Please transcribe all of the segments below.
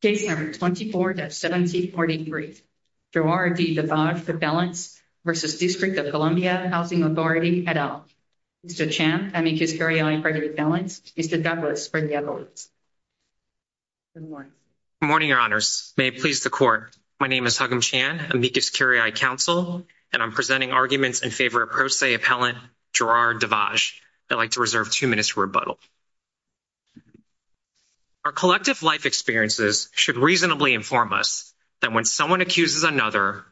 Case number 24-1743, Gerard D. Da'vage, Appellant v. District of Columbia Housing Authority, et al. Mr. Chan, Amicus Curiae, Appellant. Mr. Douglas, Bernie, et al. Good morning. Good morning, Your Honors. May it please the Court. My name is Hugum Chan, Amicus Curiae Counsel, and I'm presenting arguments in favor of Pro Se Appellant Gerard Da'vage. I'd like to reserve two minutes for rebuttal. Our collective life experiences should reasonably inform us that when someone accuses another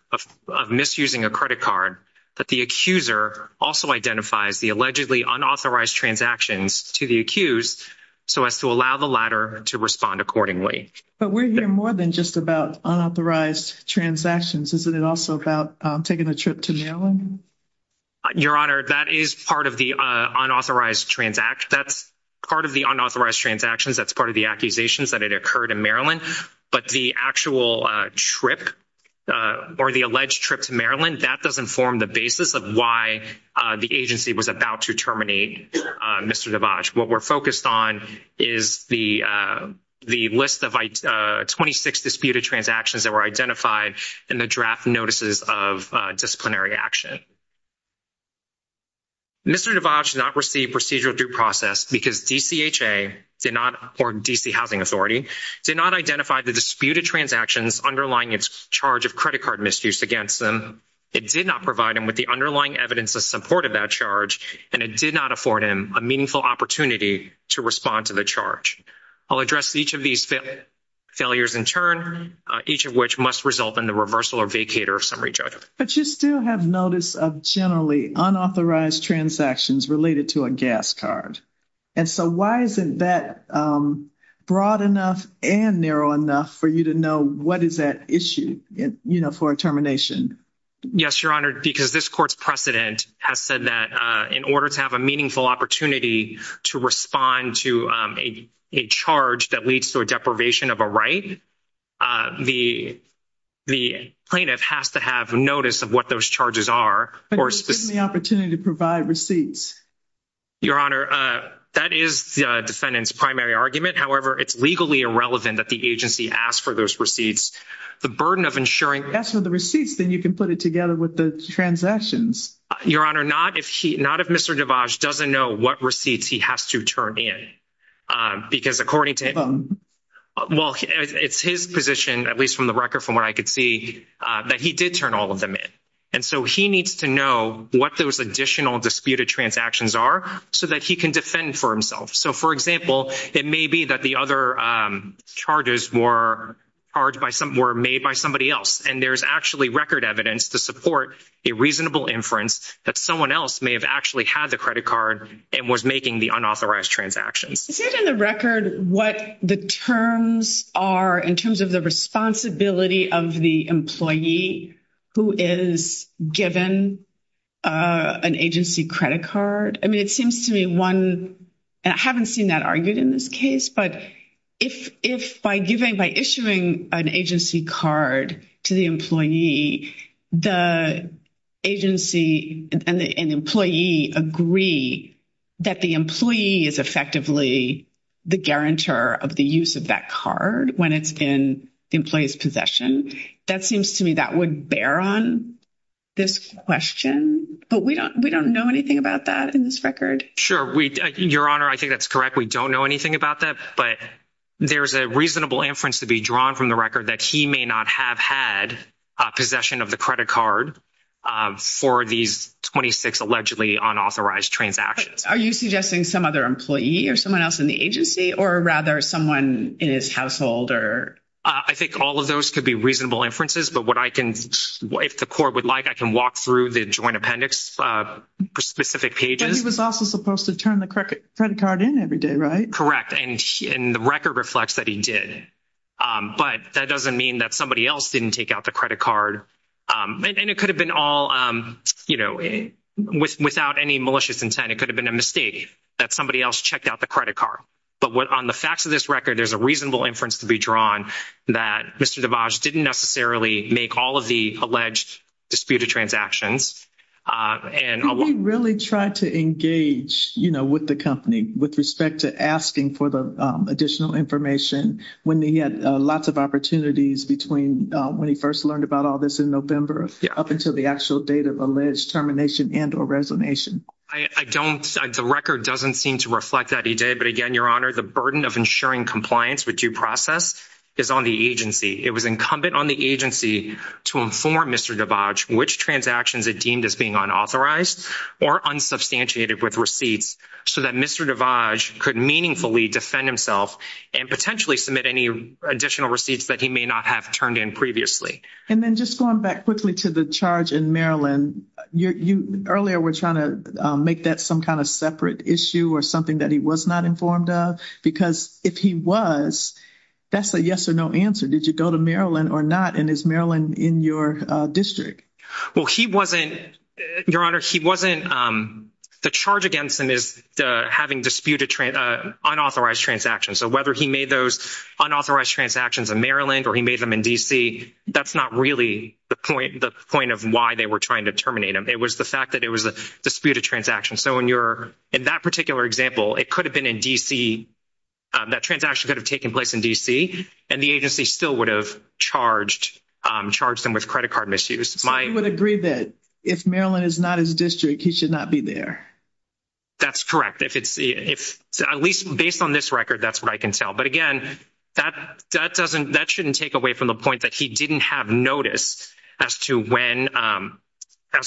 of misusing a credit card, that the accuser also identifies the allegedly unauthorized transactions to the accused so as to allow the latter to respond accordingly. But we're here more than just about unauthorized transactions. Isn't it also about taking a trip to Maryland? Your Honor, that is part of the unauthorized transactions. That's part of the accusations that had occurred in Maryland. But the actual trip or the alleged trip to Maryland, that doesn't form the basis of why the agency was about to terminate Mr. Da'vage. What we're focused on is the list of 26 disputed transactions that were identified in the draft notices of disciplinary action. Mr. Da'vage did not receive procedural due process because DCHA did not, or D.C. Housing Authority, did not identify the disputed transactions underlying its charge of credit card misuse against him. It did not provide him with the underlying evidence of support of that charge, and it did not afford him a meaningful opportunity to respond to the charge. I'll address each of these failures in turn, each of which must result in the reversal or vacater of summary judgment. But you still have notice of generally unauthorized transactions related to a gas card. And so why isn't that broad enough and narrow enough for you to know what is at issue, you know, for a termination? Yes, Your Honor, because this court's precedent has said that in order to have a meaningful opportunity to respond to a charge that leads to a deprivation of a right, the plaintiff has to have notice of what those charges are. But he was given the opportunity to provide receipts. Your Honor, that is the defendant's primary argument. However, it's legally irrelevant that the agency asked for those receipts. The burden of ensuring... If he asks for the receipts, then you can put it together with the transactions. Your Honor, not if Mr. Da'vage doesn't know what receipts he has to turn in, because according to... Well, it's his position, at least from the record from what I could see, that he did turn all of them in. And so he needs to know what those additional disputed transactions are so that he can defend for himself. So, for example, it may be that the other charges were made by somebody else, and there's actually record evidence to support a reasonable inference that someone else may have actually had the credit card and was making the unauthorized transactions. Is it in the record what the terms are in terms of the responsibility of the employee who is given an agency credit card? I mean, it seems to me one... And I haven't seen that argued in this case, but if by issuing an agency card to the employee, the agency and the employee agree that the employee is effectively the guarantor of the use of that card when it's in the employee's possession, that seems to me that would bear on this question. But we don't know anything about that in this record. Sure. Your Honor, I think that's correct. We don't know anything about that, but there's a reasonable inference to be drawn from the record that he may not have had possession of the credit card for these 26 allegedly unauthorized transactions. Are you suggesting some other employee or someone else in the agency or rather someone in his household? I think all of those could be reasonable inferences, but what I can... If the court would like, I can walk through the joint appendix for specific pages. But he was also supposed to turn the credit card in every day, right? Correct. And the record reflects that he did. But that doesn't mean that somebody else didn't take the credit card. And it could have been all without any malicious intent. It could have been a mistake that somebody else checked out the credit card. But on the facts of this record, there's a reasonable inference to be drawn that Mr. DeVos didn't necessarily make all of the alleged disputed transactions. Did he really try to engage with the company with respect to asking for the additional information when he had lots of opportunities when he first learned about all this in November up until the actual date of alleged termination and or resignation? The record doesn't seem to reflect that he did. But again, Your Honor, the burden of ensuring compliance with due process is on the agency. It was incumbent on the agency to inform Mr. DeVos which transactions it deemed as being unauthorized or unsubstantiated with receipts so that Mr. DeVos could meaningfully defend himself and potentially submit any additional receipts that he may not have turned in previously. And then just going back quickly to the charge in Maryland, you earlier were trying to make that some kind of separate issue or something that he was not informed of. Because if he was, that's a yes or no answer. Did you go to Maryland or not? And is Maryland in your district? Well, he wasn't, Your Honor, he wasn't. The charge against him is having disputed unauthorized transactions. So whether he made those unauthorized transactions in Maryland or he made them in D.C., that's not really the point of why they were trying to terminate him. It was the fact that it was a disputed transaction. So in that particular example, it could have been in D.C., that transaction could have taken place in D.C., and the agency still would have charged him with credit card misuse. So you would agree that if Maryland is not his district, he should not be there? That's correct. At least based on this record, that's what I can tell. But again, that shouldn't take away from the point that he didn't have notice as to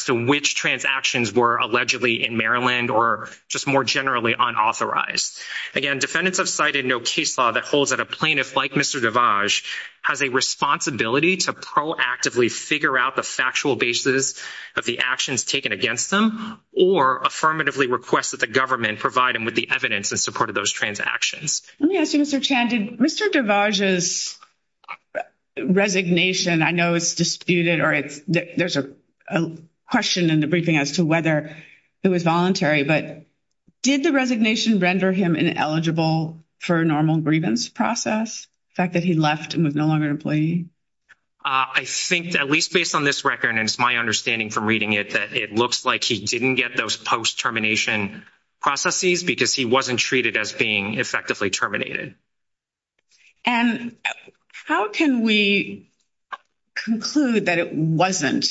which transactions were allegedly in Maryland or just more generally unauthorized. Again, defendants have cited no case law that holds that a plaintiff like Mr. DeVage has a responsibility to proactively figure out the factual basis of the actions taken against them or affirmatively request that the government provide him with the evidence in support of those transactions. Let me ask you, Mr. Chan, did Mr. DeVage's resignation, I know it's disputed or there's a question in the briefing as to whether it was voluntary, but did the resignation render him ineligible for a normal grievance process, the fact that he left and was no longer an employee? I think at least based on this record, and it's my understanding from reading it, that it looks like he didn't get those post-termination processes because he wasn't treated as being effectively terminated. And how can we conclude that it wasn't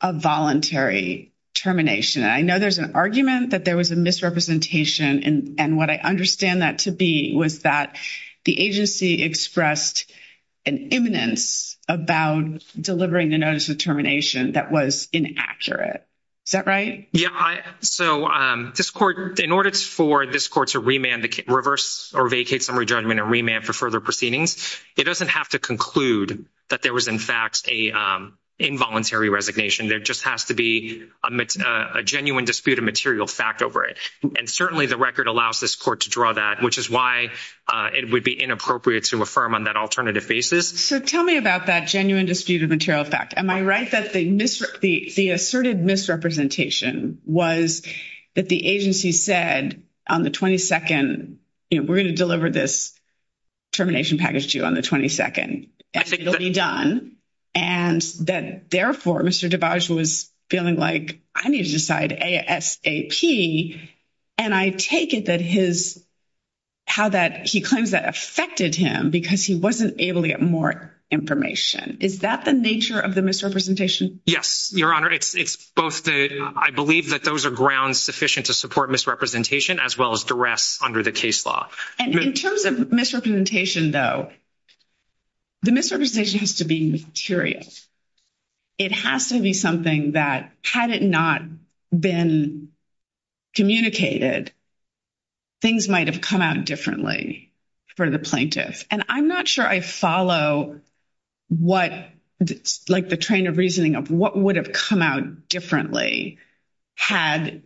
a voluntary termination? I know there's an argument that there was a misrepresentation and what I understand that to be was that the agency expressed an imminence about delivering the notice of termination that was inaccurate. Is that right? Yeah, so in order for this court to remand the reverse or vacate summary judgment and remand for further proceedings, it doesn't have to conclude that there was, in fact, a involuntary resignation. There just has to be a genuine dispute of material fact over it. And certainly the record allows this court to draw that, which is why it would be inappropriate to affirm on that alternative basis. So tell me about that genuine dispute of material fact. Am I right that the asserted misrepresentation was that the agency said on the 22nd, we're going to deliver this termination package to you on the 22nd, and it'll be done, and that therefore Mr. Dabaj was feeling like I need to decide ASAP, and I take it that his, how that he claims that affected him because he wasn't able to get more information. Is that the nature of the misrepresentation? Yes, Your Honor. It's both the, I believe that those are grounds sufficient to support misrepresentation as well as duress under the case law. And in terms of misrepresentation though, the misrepresentation has to be material. It has to be something that had it not been communicated, things might have come out differently for the plaintiff. And I'm not sure I follow what, like the train of reasoning of what would have come out differently had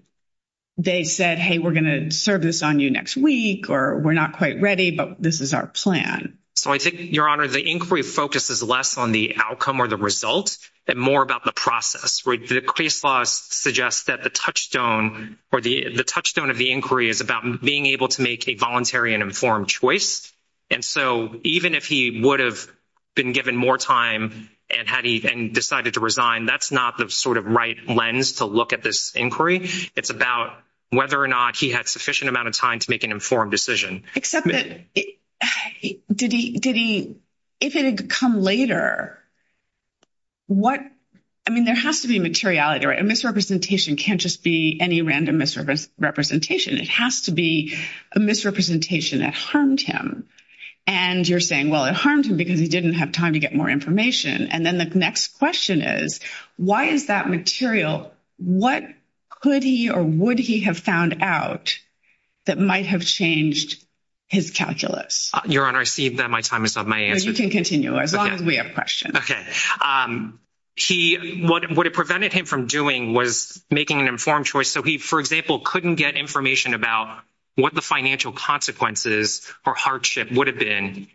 they said, hey, we're going to serve this on you next week, or we're not quite ready, but this is our plan. So I think, Your Honor, the inquiry focuses less on the outcome or the result and more about the process. The case law suggests that the touchstone or the touchstone of the inquiry is about being able to make a voluntary and informed choice. And so even if he would have been given more time and decided to resign, that's not the sort of right lens to look at this inquiry. It's about whether or not he had sufficient amount of time to make an informed decision. Except that, if it had come later, what, I mean, there has to be materiality, right? A misrepresentation can't just be any random misrepresentation. It has to be a misrepresentation that harmed him. And you're saying, well, it harmed him because he didn't have time to get more information. And then the next question is, why is that material? What could he or would he have found out that might have changed his calculus? Your Honor, I see that my time is up. You can continue as long as we have questions. Okay. He, what it prevented him from doing was making an informed choice. So he, for example, couldn't get information about what the financial consequences or hardship would have been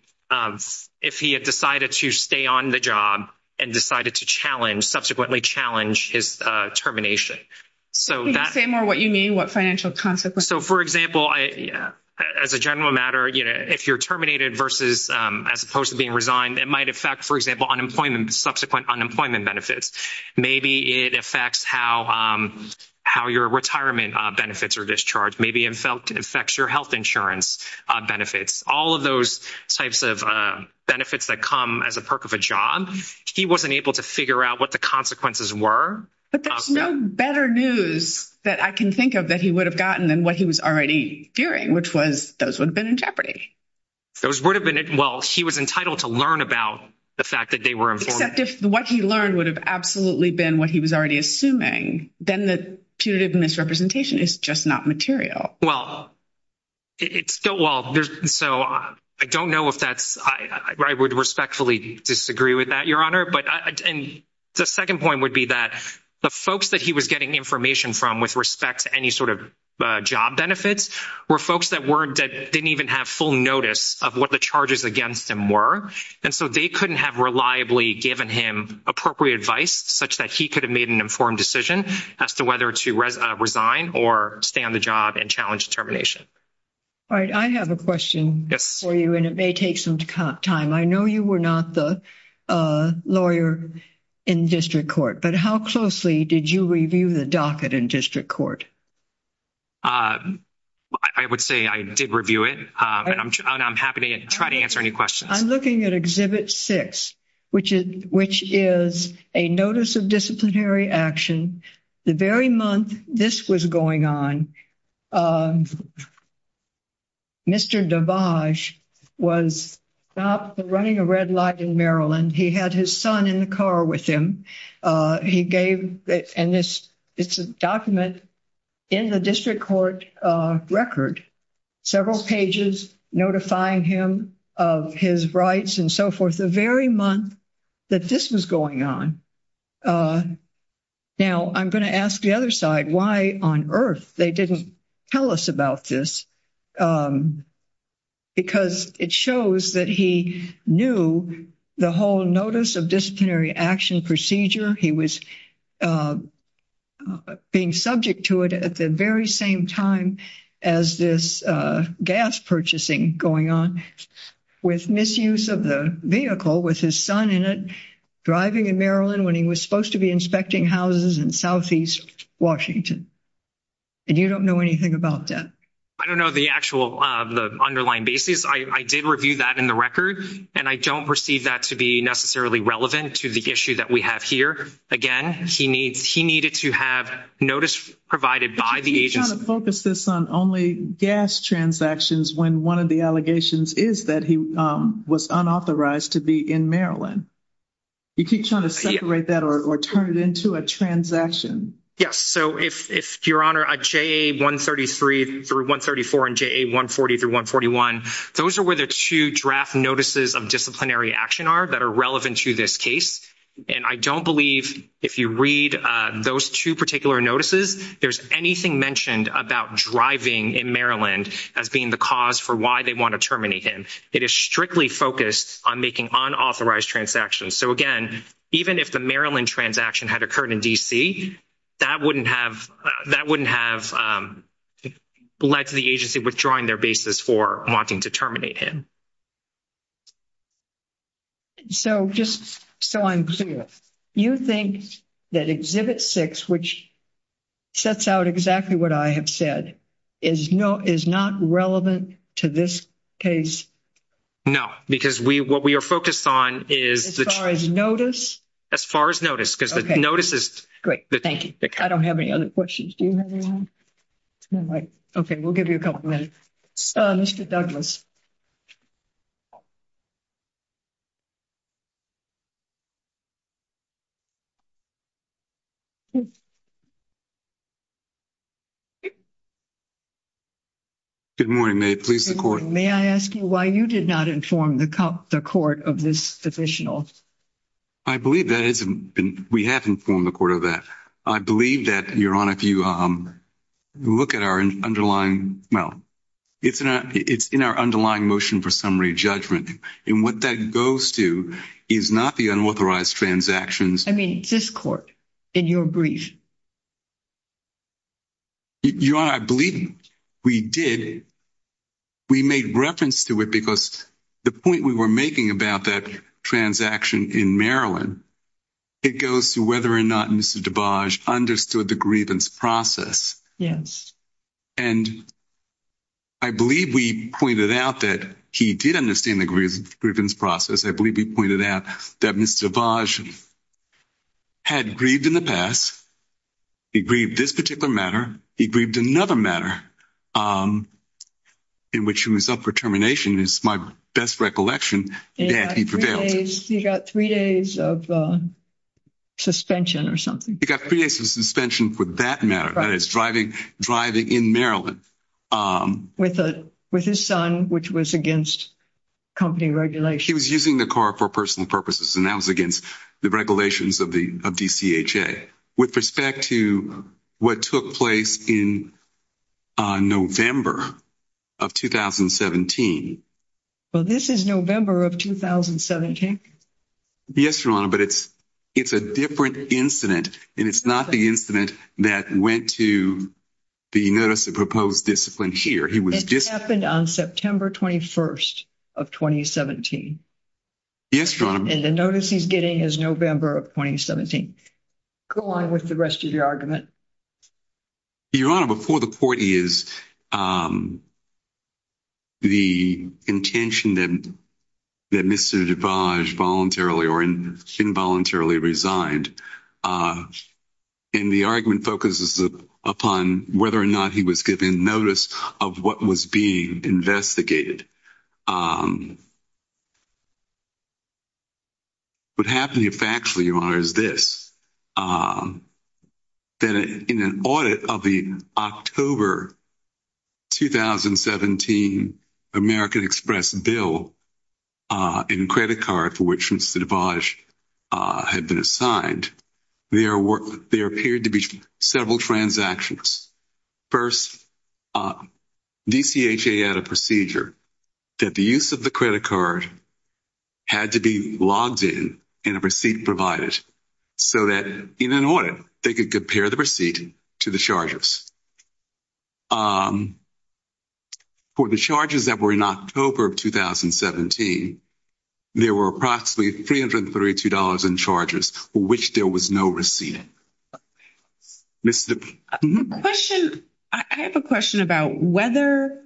if he had decided to stay on the job and decided to challenge, subsequently challenge, his termination. So that. Can you say more what you mean, what financial consequences? So, for example, as a general matter, you know, if you're terminated versus, as opposed to being resigned, it might affect, for example, unemployment, subsequent unemployment benefits. Maybe it affects how your retirement benefits are discharged. Maybe it affects your health insurance benefits. All of those types of benefits that come as a perk of a job. He wasn't able to figure out what the consequences were. But there's no better news that I can think of that he would have gotten than what he was already fearing, which was those would have been in jeopardy. Those would have been, well, he was entitled to learn about the fact that they were informed. Except if what he learned would have absolutely been what he was already assuming, then the punitive misrepresentation is just not material. Well, it's still, well, so I don't know if that's, I would respectfully disagree with that, Your Honor. But the second point would be that the folks that he was getting information from with respect to any sort of job benefits were folks that weren't, that didn't even have full notice of what the charges against him were. And so they couldn't have reliably given him appropriate advice such that he could have made an informed decision as to whether to resign or stay on the job and challenge termination. All right. I have a question for you, and it may take some time. I know you were not the lawyer in district court, but how closely did you review the docket in district court? I would say I did review it, and I'm happy to try to answer any questions. I'm looking at Exhibit 6, which is a notice of disciplinary action. The very month this was going on, Mr. DeBage was stopped from running a red light in Maryland. He had his son in the car with him. He gave, and it's a document in the district court record, several pages notifying him of his rights and so forth, the very month that this was going on. Now, I'm going to ask the other side, why on earth they didn't tell us about this? Because it shows that he knew the whole notice of disciplinary action procedure. He was being subject to it at the very same time as this gas purchasing going on with misuse of the vehicle with his son in it, driving in Maryland when he was supposed to be inspecting houses in southeast Washington. And you don't know anything about that? I don't know the actual underlying basis. I did review that in the record, and I don't perceive that to be necessarily relevant to the issue that we have here. Again, he needed to have notice provided by the agency. But you keep trying to focus this on only gas transactions when one of the allegations is that he was unauthorized to be in Maryland. You keep trying to separate that or turn it into a transaction. Yes. So if, Your Honor, a JA-133-134 and JA-140-141, those are where the two draft notices of disciplinary action are that are relevant to this case. And I don't believe if you read those two particular notices, there's anything mentioned about driving in Maryland as being the cause for why they want to terminate him. It is strictly focused on making unauthorized transactions. So again, even if the Maryland transaction had occurred in D.C., that wouldn't have led to the agency withdrawing their basis for wanting to terminate him. So just so I'm clear, you think that Exhibit 6, which sets out exactly what I have said, is not relevant to this case? No. Because what we are focused on is... As far as notice? As far as notice. Because the notice is... Great. Thank you. I don't have any other questions. Do you have anything? Okay. We'll give you a couple minutes. Mr. Douglas. Good morning. May it please the Court? May I ask you why you did not inform the Court of this official? I believe that we have informed the Court of that. I believe that, Your Honor, if you look at our underlying... Well, it's in our underlying motion for summary judgment. And what that goes to is not the unauthorized transactions. I mean, it's this Court in your brief. Your Honor, I believe we did. We made reference to it because the point we were making about that transaction in Maryland, it goes to whether or not Mr. DeBage understood the grievance process. Yes. And I believe we pointed out that he did understand the grievance process. I believe we pointed out that Mr. DeBage had grieved in the past. He grieved this particular matter. He grieved another matter in which he was up for termination. It's my best recollection that he prevailed. He got three days of suspension or something. He got three days of suspension for that matter, that is, driving in Maryland. With his son, which was against company regulation. He was using the car for personal purposes, and that was against the regulations of DCHA. With respect to what took place in November of 2017... Well, this is November of 2017. Yes, Your Honor, but it's a different incident, and it's not the incident that went to the notice of proposed discipline here. It happened on September 21st of 2017. Yes, Your Honor. And the notice he's getting is November of 2017. Go on with the rest of your argument. Your Honor, before the court is... The intention that Mr. DeBage voluntarily or involuntarily resigned, and the argument focuses upon whether or not he was given notice of what was being investigated. What happened here factually, Your Honor, is this. That in an audit of the October 2017 American Express bill and credit card for which Mr. DeBage had been assigned, there appeared to be several transactions. First, DCHA had a procedure that the use of the credit card had to be logged in and a receipt provided so that in an audit they could compare the receipt to the charges. For the charges that were in October of 2017, there were approximately $332 in charges for which there was no receipt. Mr. DeBage? The question, I have a question about whether...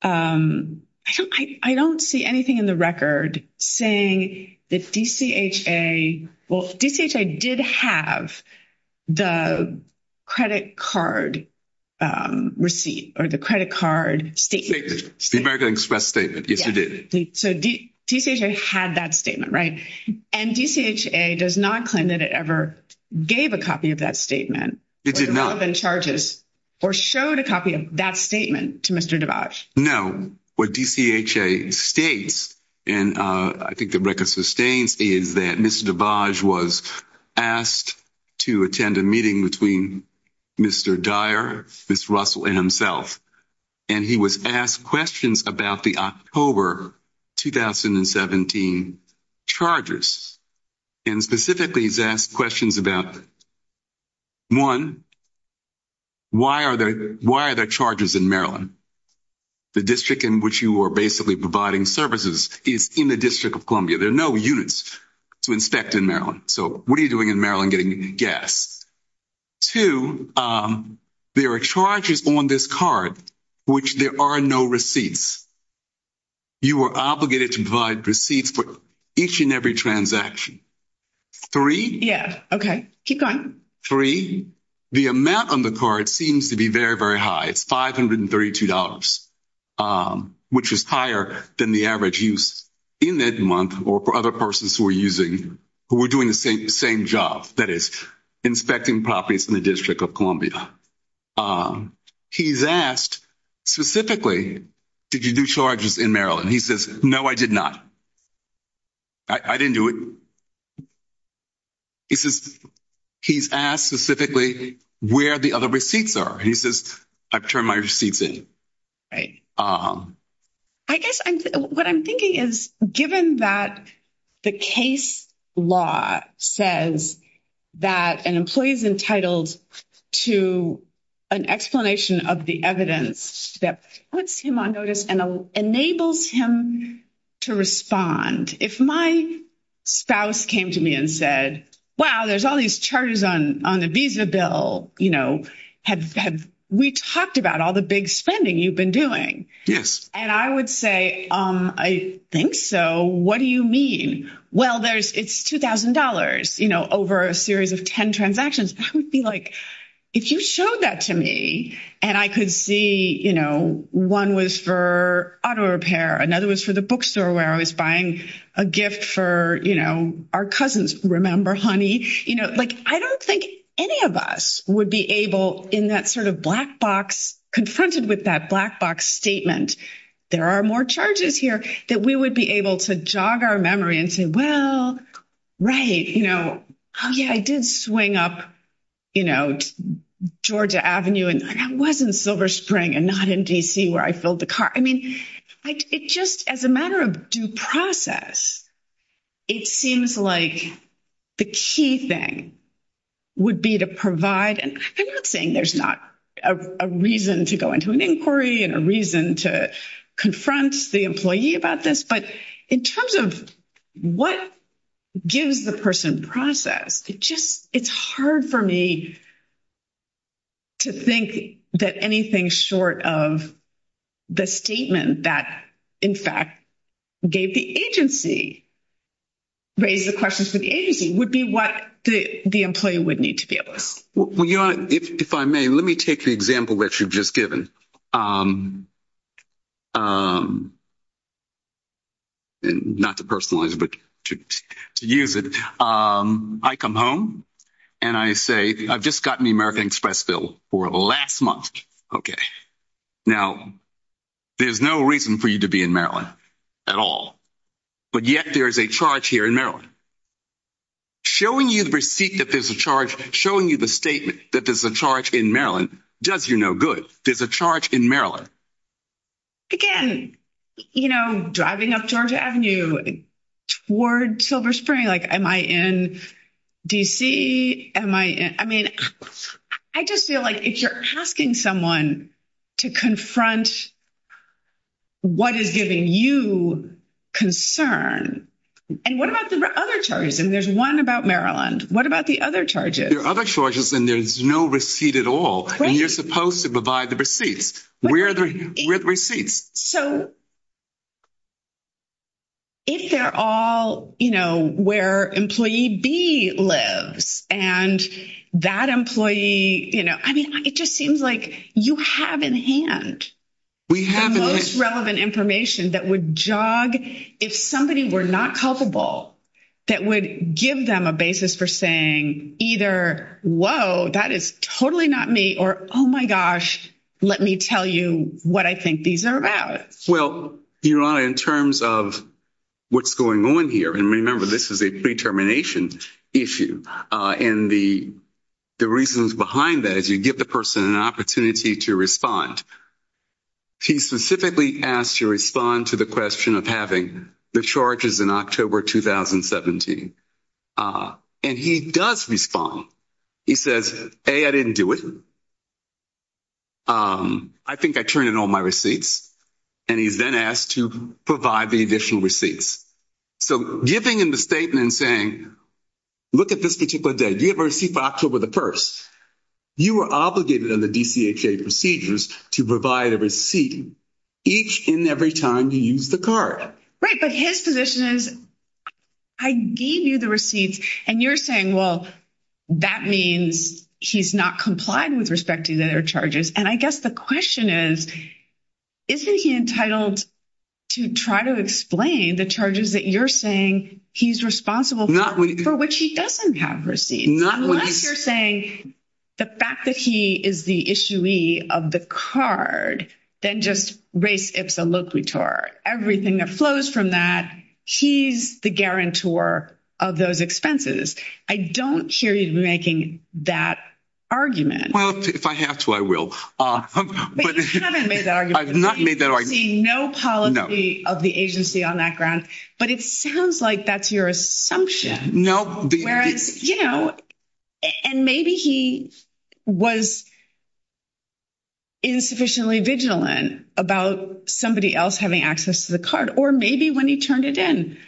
I don't see anything in the record saying that DCHA, well, DCHA did have the credit card receipt or the credit card statement. The American Express statement, yes, they did. So DCHA had that statement, right? And DCHA does not claim that it ever gave a copy of that statement... It did not. ...or the relevant charges or showed a copy of that statement to Mr. DeBage. No, what DCHA states, and I think the record sustains, is that Mr. DeBage was asked to attend a meeting between Mr. Dyer, Ms. Russell, and himself. And he was asked questions about the October 2017 charges. And specifically, he's asked questions about, one, why are there charges in Maryland? The district in which you are basically providing services is in the District of Columbia. There are no units to inspect in Maryland. What are you doing in Maryland getting gas? Two, there are charges on this card, which there are no receipts. You are obligated to provide receipts for each and every transaction. Three... Yeah, okay. Keep going. Three, the amount on the card seems to be very, very high. It's $532, which is higher than the average use in that month or for other persons who were doing the same job, that is, inspecting properties in the District of Columbia. He's asked specifically, did you do charges in Maryland? He says, no, I did not. I didn't do it. He says, he's asked specifically where the other receipts are. He says, I've turned my receipts in. I guess what I'm thinking is, given that the case law says that an employee is entitled to an explanation of the evidence that puts him on notice and enables him to respond. If my spouse came to me and said, wow, there's all these charges on the visa bill. We talked about all the big spending you've been doing. I would say, I think so. What do you mean? Well, it's $2,000 over a series of 10 transactions. I would be like, if you showed that to me and I could see one was for auto repair, another was for the bookstore where I was buying a gift for our cousins, remember, honey? I don't think any of us would be able in that sort of black box, confronted with that black box statement. There are more charges here that we would be able to jog our memory and say, well, right. Oh, yeah, I did swing up to Georgia Avenue and that wasn't Silver Spring and not in DC where I filled the car. I mean, it just, as a matter of due process, it seems like the key thing would be to provide. And I'm not saying there's not a reason to go into an inquiry and a reason to confront the employee about this. But in terms of what gives the person process, it's hard for me to think that anything short of the statement that, in fact, gave the agency, raised the questions for the agency, would be what the employee would need to be able to say. If I may, let me take the example that you've just given. Not to personalize, but to use it. I come home and I say, I've just gotten the American Express bill for the last month. Okay. Now, there's no reason for you to be in Maryland at all. But yet there is a charge here in Maryland. Showing you the receipt that there's a charge, showing you the statement that there's a charge in Maryland, does you no good. There's a charge in Maryland. Again, you know, driving up Georgia Avenue toward Silver Spring, like, am I in DC? I mean, I just feel like if you're asking someone to confront what is giving you concern, and what about the other charges? And there's one about Maryland. What about the other charges? There are other charges and there's no receipt at all. And you're supposed to provide the receipts. Where are the receipts? So, if they're all, you know, where employee B lives, and that employee, you know, I mean, it just seems like you have in hand the most relevant information that would jog if somebody were not culpable, that would give them a basis for saying either, whoa, that is totally not me, or, oh, my gosh, let me tell you what I think these are about. Well, Your Honor, in terms of what's going on here, and remember, this is a pre-termination issue, and the reasons behind that is you give the person an opportunity to respond. He's specifically asked to respond to the question of having the charges in October 2017. And he does respond. He says, A, I didn't do it. I think I turned in all my receipts. And he's then asked to provide the additional receipts. So, giving him the statement saying, look at this particular day. Do you have a receipt for October the 1st? You are obligated under the DCHA procedures to provide a receipt each and every time you use the card. Right. But his position is, I gave you the receipts, and you're saying, well, that means he's not complied with respect to their charges. And I guess the question is, isn't he entitled to try to explain the charges that you're saying he's responsible for, for which he doesn't have receipts? Unless you're saying the fact that he is the issuee of the card, then just res ipsa loquitur. Everything that flows from that, he's the guarantor of those expenses. I don't hear you making that argument. Well, if I have to, I will. But you haven't made that argument. I've not made that argument. You've seen no policy of the agency on that ground. But it sounds like that's your assumption. No. Whereas, you know, and maybe he was insufficiently vigilant about somebody else having access to the card, or maybe when he turned it in,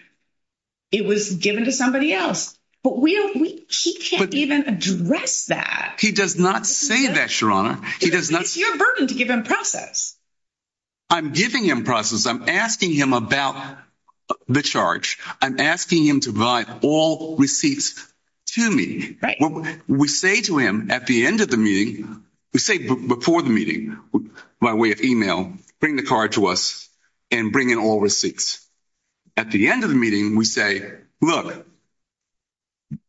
it was given to somebody else. But he can't even address that. He does not say that, Your Honor. He does not. It's your burden to give him process. I'm giving him process. I'm asking him about the charge. I'm asking him to provide all receipts to me. We say to him at the end of the meeting, we say before the meeting, by way of email, bring the card to us and bring in all receipts. At the end of the meeting, we say, look,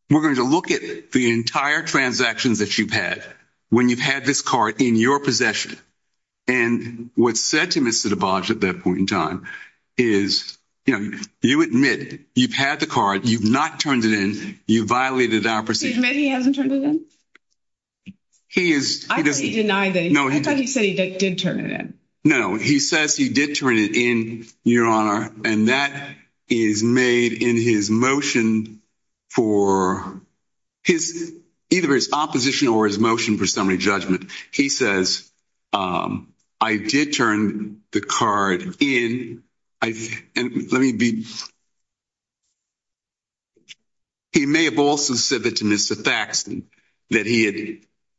we're going to look at the entire transactions that you've had when you've had this card in your possession. And what's said to Mr. DeBodge at that point in time is, you know, you admit you've had the card. You've not turned it in. You violated our procedure. Excuse me, he hasn't turned it in? He is. I thought he said he did turn it in. No, he says he did turn it in, Your Honor. And that is made in his motion for his either his opposition or his motion for summary judgment. He says, I did turn the card in. And let me be. He may have also said that to Mr. Faxon that he had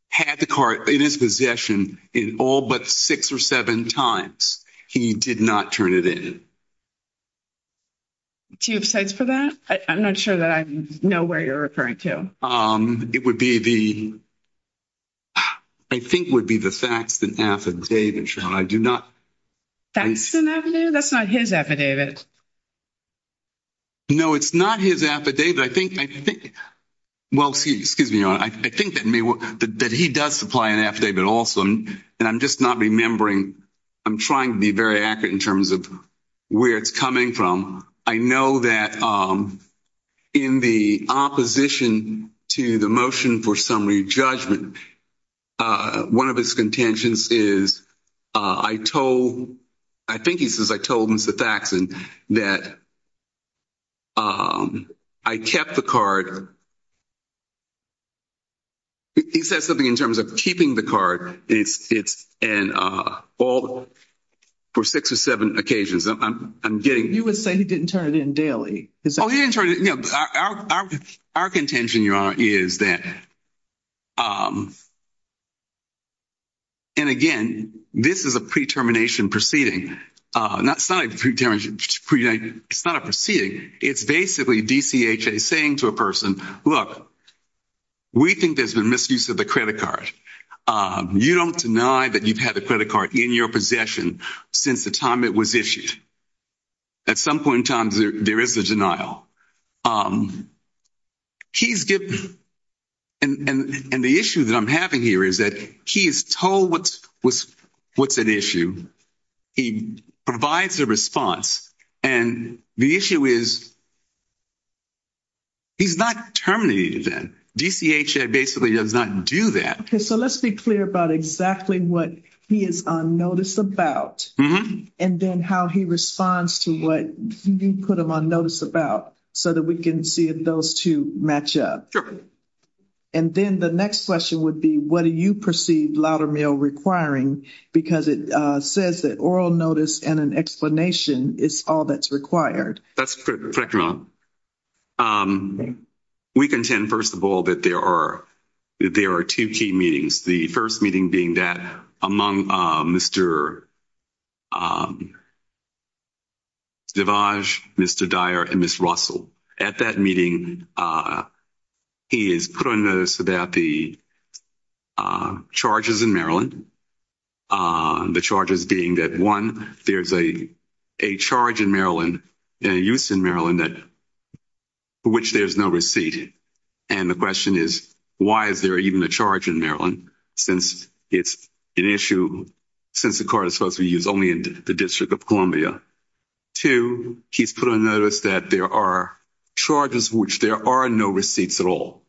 had the card in his possession in all but six or seven times. He did not turn it in. Do you have sites for that? I'm not sure that I know where you're referring to. It would be the, I think would be the facts that affidavit, Your Honor. I do not. That's an affidavit? That's not his affidavit. No, it's not his affidavit. I think, well, excuse me, Your Honor. I think that he does supply an affidavit also. And I'm just not remembering. I'm trying to be very accurate in terms of where it's coming from. I know that in the opposition to the motion for summary judgment, one of his contentions is, I told, I think he says, I told Mr. Faxon that I kept the card. He said something in terms of keeping the card. It's an all for six or seven occasions. You would say he didn't turn it in daily. Our contention, Your Honor, is that, and again, this is a pre-termination proceeding. It's not a proceeding. It's basically DCHA saying to a person, look, we think there's been misuse of the credit card. You don't deny that you've had the credit card in your possession since the time it was issued. At some point in time, there is a denial. He's given, and the issue that I'm having here is that he is told what's an issue. He provides a response. And the issue is, he's not terminating it then. DCHA basically does not do that. So let's be clear about exactly what he is on notice about, and then how he responds to what you put him on notice about, so that we can see if those two match up. And then the next question would be, what do you perceive Loudermill requiring? Because it says that oral notice and an explanation is all that's required. That's correct, Your Honor. We contend, first of all, that there are two key meetings. The first meeting being that among Mr. DeVage, Mr. Dyer, and Ms. Russell. At that meeting, he is put on notice about the charges in Maryland. The charges being that, one, there's a charge in Maryland, in use in Maryland, for which there's no receipt. And the question is, why is there even a charge in Maryland, since it's an issue, since the card is supposed to be used only in the District of Columbia? Two, he's put on notice that there are charges for which there are no receipts at all.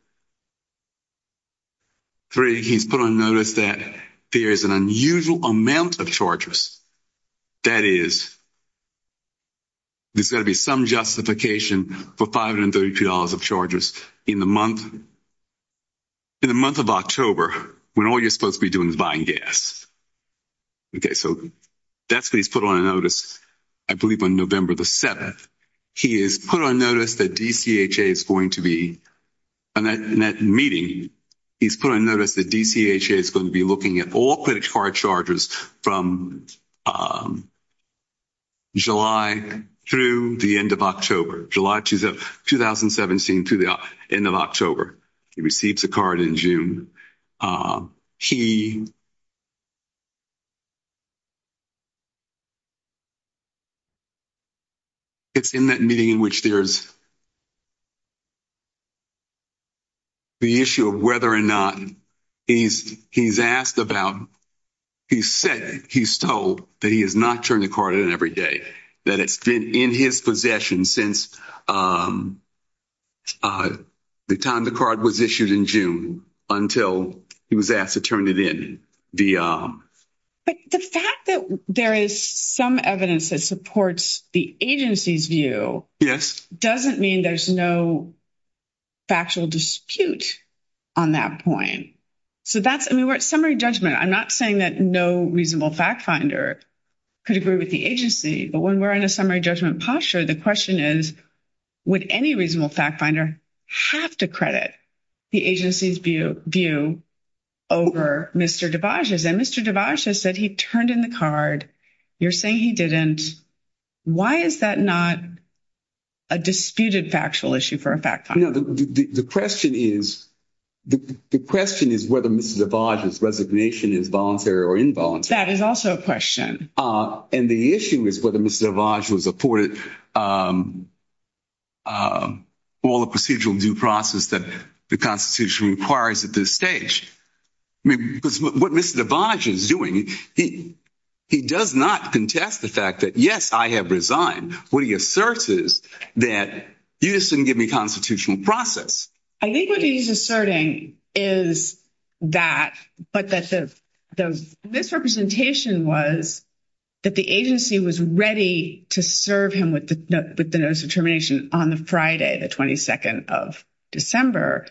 Three, he's put on notice that there is an unusual amount of charges. That is, there's got to be some justification for $532 of charges in the month of October, when all you're supposed to be doing is buying gas. Okay, so that's what he's put on notice, I believe, on November the 7th. He is put on notice that DCHA is going to be, in that meeting, he's put on notice that DCHA is going to be looking at all credit card charges from July through the end of October, July 2017 through the end of October. He receives a card in June. He, it's in that meeting in which there's the issue of whether or not he's asked about, he's said, he's told that he has not turned the card in every day. That it's been in his possession since the time the card was issued in June, until he was asked to turn it in. But the fact that there is some evidence that supports the agency's view, doesn't mean there's no factual dispute on that point. So that's, I mean, we're at summary judgment. I'm not saying that no reasonable fact finder could agree with the agency. But when we're in a summary judgment posture, the question is, would any reasonable fact finder have to credit the agency's view over Mr. DeBage's? And Mr. DeBage has said he turned in the card. You're saying he didn't. Why is that not a disputed factual issue for a fact finder? No, the question is whether Mr. DeBage's resignation is voluntary or involuntary. That is also a question. And the issue is whether Mr. DeBage was afforded all the procedural due process that the Constitution requires at this stage. Because what Mr. DeBage is doing, he does not contest the fact that, yes, I have resigned. What he asserts is that you just didn't give me constitutional process. I think what he's asserting is that, but that the misrepresentation was that the agency was ready to serve him with the notice of termination on the Friday, the 22nd of December.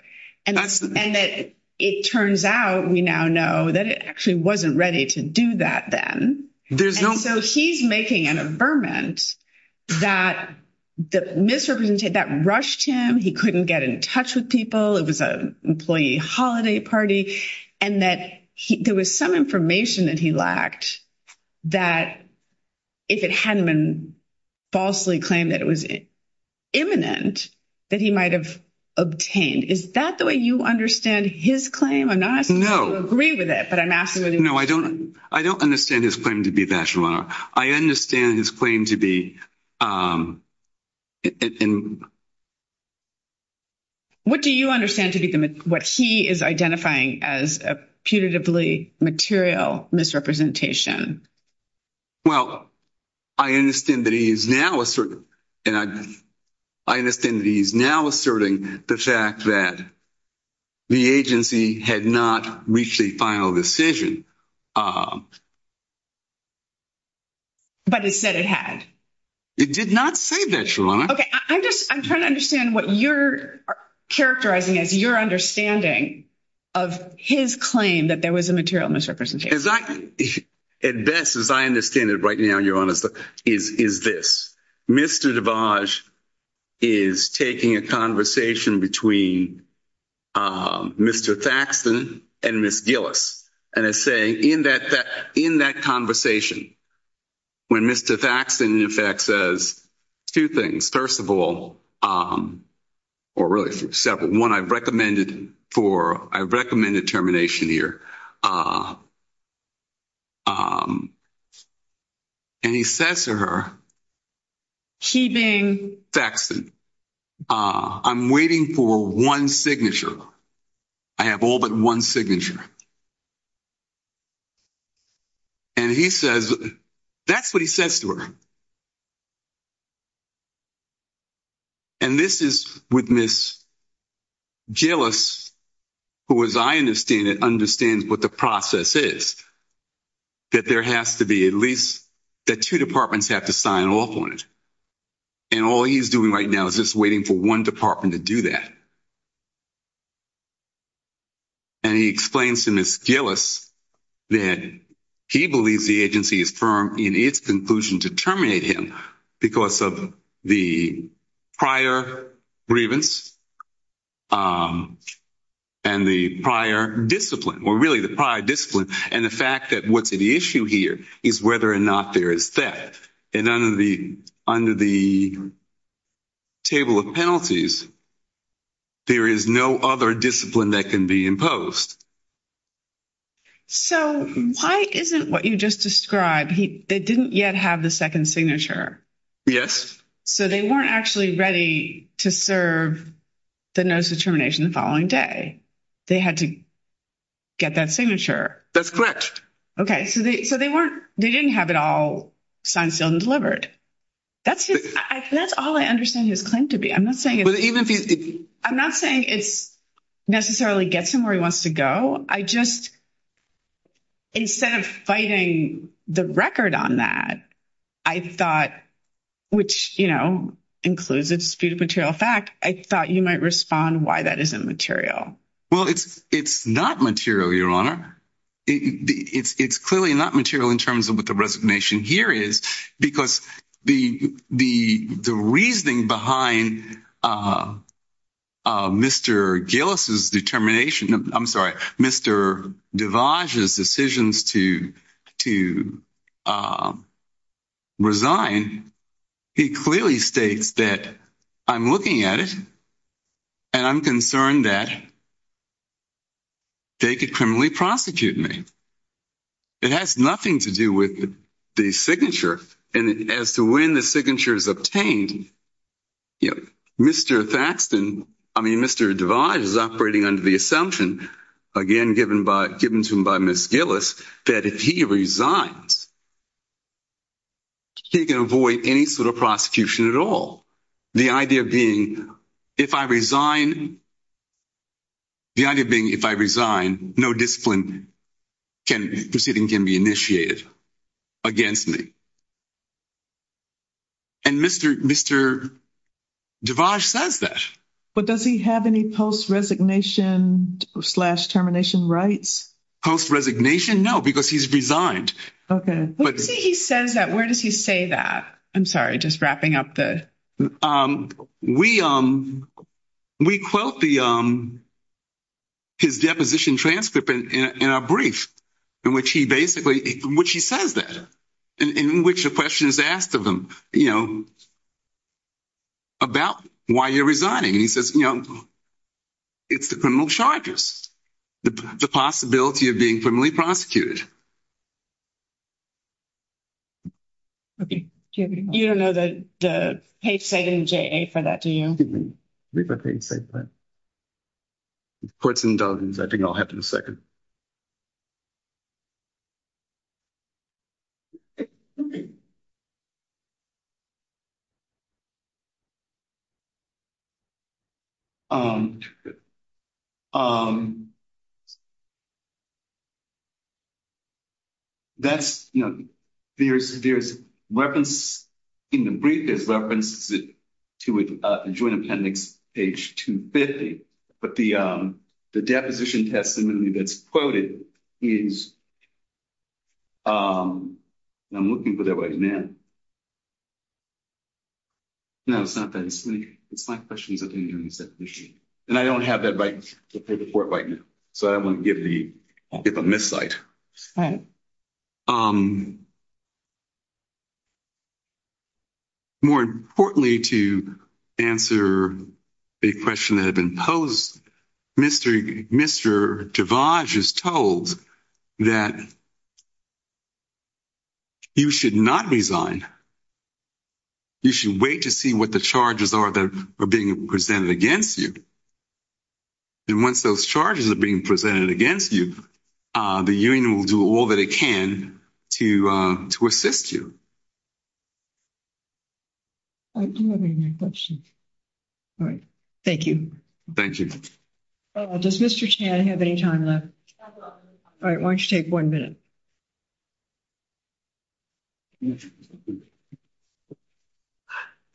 And that it turns out, we now know that it actually wasn't ready to do that then. So he's making an averment that the misrepresentation, that rushed him. He couldn't get in touch with people. It was an employee holiday party. And that there was some information that he lacked that, if it hadn't been falsely claimed that it was imminent, that he might have obtained. Is that the way you understand his claim? I'm not asking you to agree with it, but I'm asking you to- No, I don't understand his claim to be a bachelor. I understand his claim to be- What do you understand to be what he is identifying as a punitively material misrepresentation? Well, I understand that he is now asserting the fact that the agency had not reached the final decision. But it said it had. It did not say that, Your Honor. Okay, I'm trying to understand what you're characterizing as your understanding of his claim that there was a material misrepresentation. At best, as I understand it right now, Your Honor, is this. Mr. DeVage is taking a conversation between Mr. Thaxton and Ms. Gillis, and is saying in that conversation, when Mr. Thaxton, in effect, says two things. First of all, or really several. One, I've recommended termination here. And he says to her- Keeping- Thaxton, I'm waiting for one signature. I have all but one signature. And he says, that's what he says to her. And this is with Ms. Gillis, who, as I understand it, understands what the process is. That there has to be at least- that two departments have to sign off on it. And all he's doing right now is just waiting for one department to do that. And he explains to Ms. Gillis that he believes the agency is firm in its conclusion to terminate him, because of the prior grievance and the prior discipline, or really the prior discipline. And the fact that what's at issue here is whether or not there is theft. And under the table of penalties, there is no other discipline that can be imposed. So, why isn't what you just described- they didn't yet have the second signature. Yes. So, they weren't actually ready to serve the notice of termination the following day. They had to get that signature. That's correct. Okay. So, they weren't- they didn't have it all signed, sealed, and delivered. That's his- that's all I understand his claim to be. I'm not saying- But even if- I'm not saying it necessarily gets him where he wants to go. I just- instead of fighting the record on that, I thought- which, you know, includes a disputed material fact- I thought you might respond why that isn't material. Well, it's not material, Your Honor. It's clearly not material in terms of what the resignation here is, because the reasoning behind Mr. Gillis's determination- I'm sorry, Mr. DeVos's decisions to resign, he clearly states that, I'm looking at it, and I'm concerned that they could criminally prosecute me. It has nothing to do with the signature, and as to when the signature is obtained, you know, Mr. Thaxton- I mean, Mr. DeVos is operating under the assumption, again, given by- given to him by Ms. Gillis, that if he resigns, he can avoid any sort of prosecution at all. The idea being, if I resign- the idea being, if I resign, no discipline can- proceeding can be initiated against me. And Mr. DeVos says that. But does he have any post-resignation slash termination rights? Post-resignation? No, because he's resigned. He says that. Where does he say that? I'm sorry, just wrapping up the- We quote the- his deposition transcript in our brief, in which he basically- which he says that, in which a question is asked of him, you know, about why you're resigning. He says, you know, it's the criminal charges, the possibility of being criminally prosecuted. Okay. Do you have any- You don't know the page site in JA for that, do you? I believe that page site, but- courts and dungeons, I think I'll have in a second. Okay. That's, you know, there's reference- in the brief, there's reference to a joint appendix, page 250, but the deposition testimony that's quoted is- I'm looking for that right now. No, it's not that. It's my questions that they're doing in the deposition. And I don't have that right- the paper for it right now. So I don't want to give the- give a missed site. More importantly, to answer the question that had been posed, Mr. Javage is told that you should not resign. You should wait to see what the charges are that are being presented against you. And once those charges are being presented against you, the union will do all that it can to assist you. I do have a question. All right. Thank you. Thank you. Does Mr. Chan have any time left? All right. Why don't you take one minute?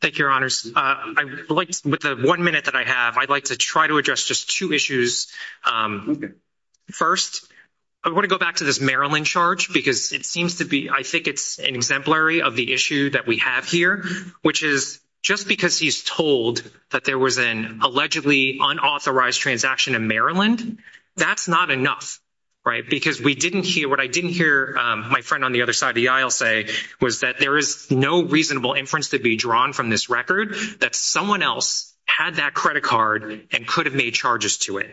Thank you, Your Honors. I would like to- with the one minute that I have, I'd like to try to address just two issues. First, I want to go back to this Maryland charge because it seems to be- I think it's an exemplary of the issue that we have here, which is just because he's told that there was an allegedly unauthorized transaction in Maryland, that's not enough, right? Because we didn't hear- what I didn't hear my friend on the other side of the aisle say was that there is no reasonable inference to be drawn from this record that someone else had that credit card and could have made charges to it.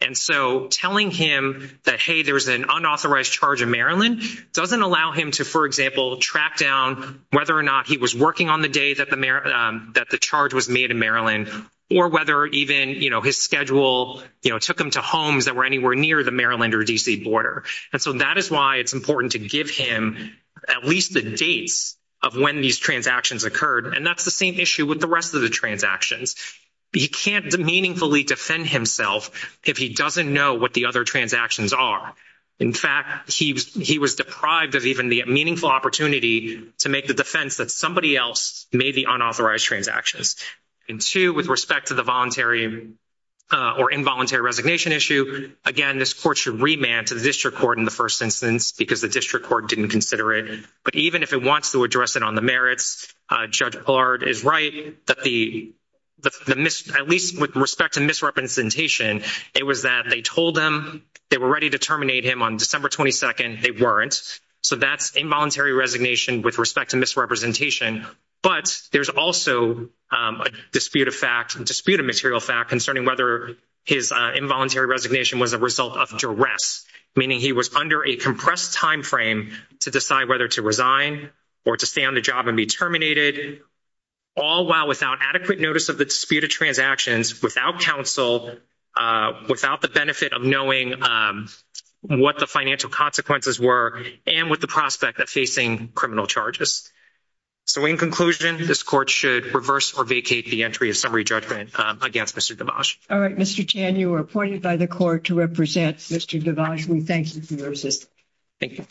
And so telling him that, hey, there's an unauthorized charge in Maryland doesn't allow him to, for example, track down whether or not he was working on the day that the charge was made in Maryland or whether even, you know, his schedule, you know, took him to homes that were anywhere near the Maryland or D.C. border. And so that is why it's important to give him at least the dates of when these transactions occurred. And that's the same issue with the rest of the transactions. He can't meaningfully defend himself if he doesn't know what the other transactions are. In fact, he was deprived of even the meaningful opportunity to make the defense that somebody else made the unauthorized transactions. And two, with respect to the voluntary or involuntary resignation issue, again, this court should remand to the district court in the first instance because the district court didn't consider it. But even if it wants to address it on the merits, Judge Allard is right that at least with respect to misrepresentation, it was that they told him they were ready to terminate him on December 22nd. They weren't. So that's involuntary resignation with respect to misrepresentation. But there's also a dispute of fact, a dispute of material fact, concerning whether his involuntary resignation was a result of duress, meaning he was under a compressed time frame to decide whether to resign or to stay on the job and be terminated, all while without adequate notice of the dispute of transactions, without counsel, without the benefit of knowing what the financial consequences were and with the prospect of facing criminal charges. So in conclusion, this court should reverse or vacate the entry of summary judgment against Mr. DeVos. All right, Mr. Chan, you are appointed by the court to represent Mr. DeVos. We thank you for your assistance. Thank you.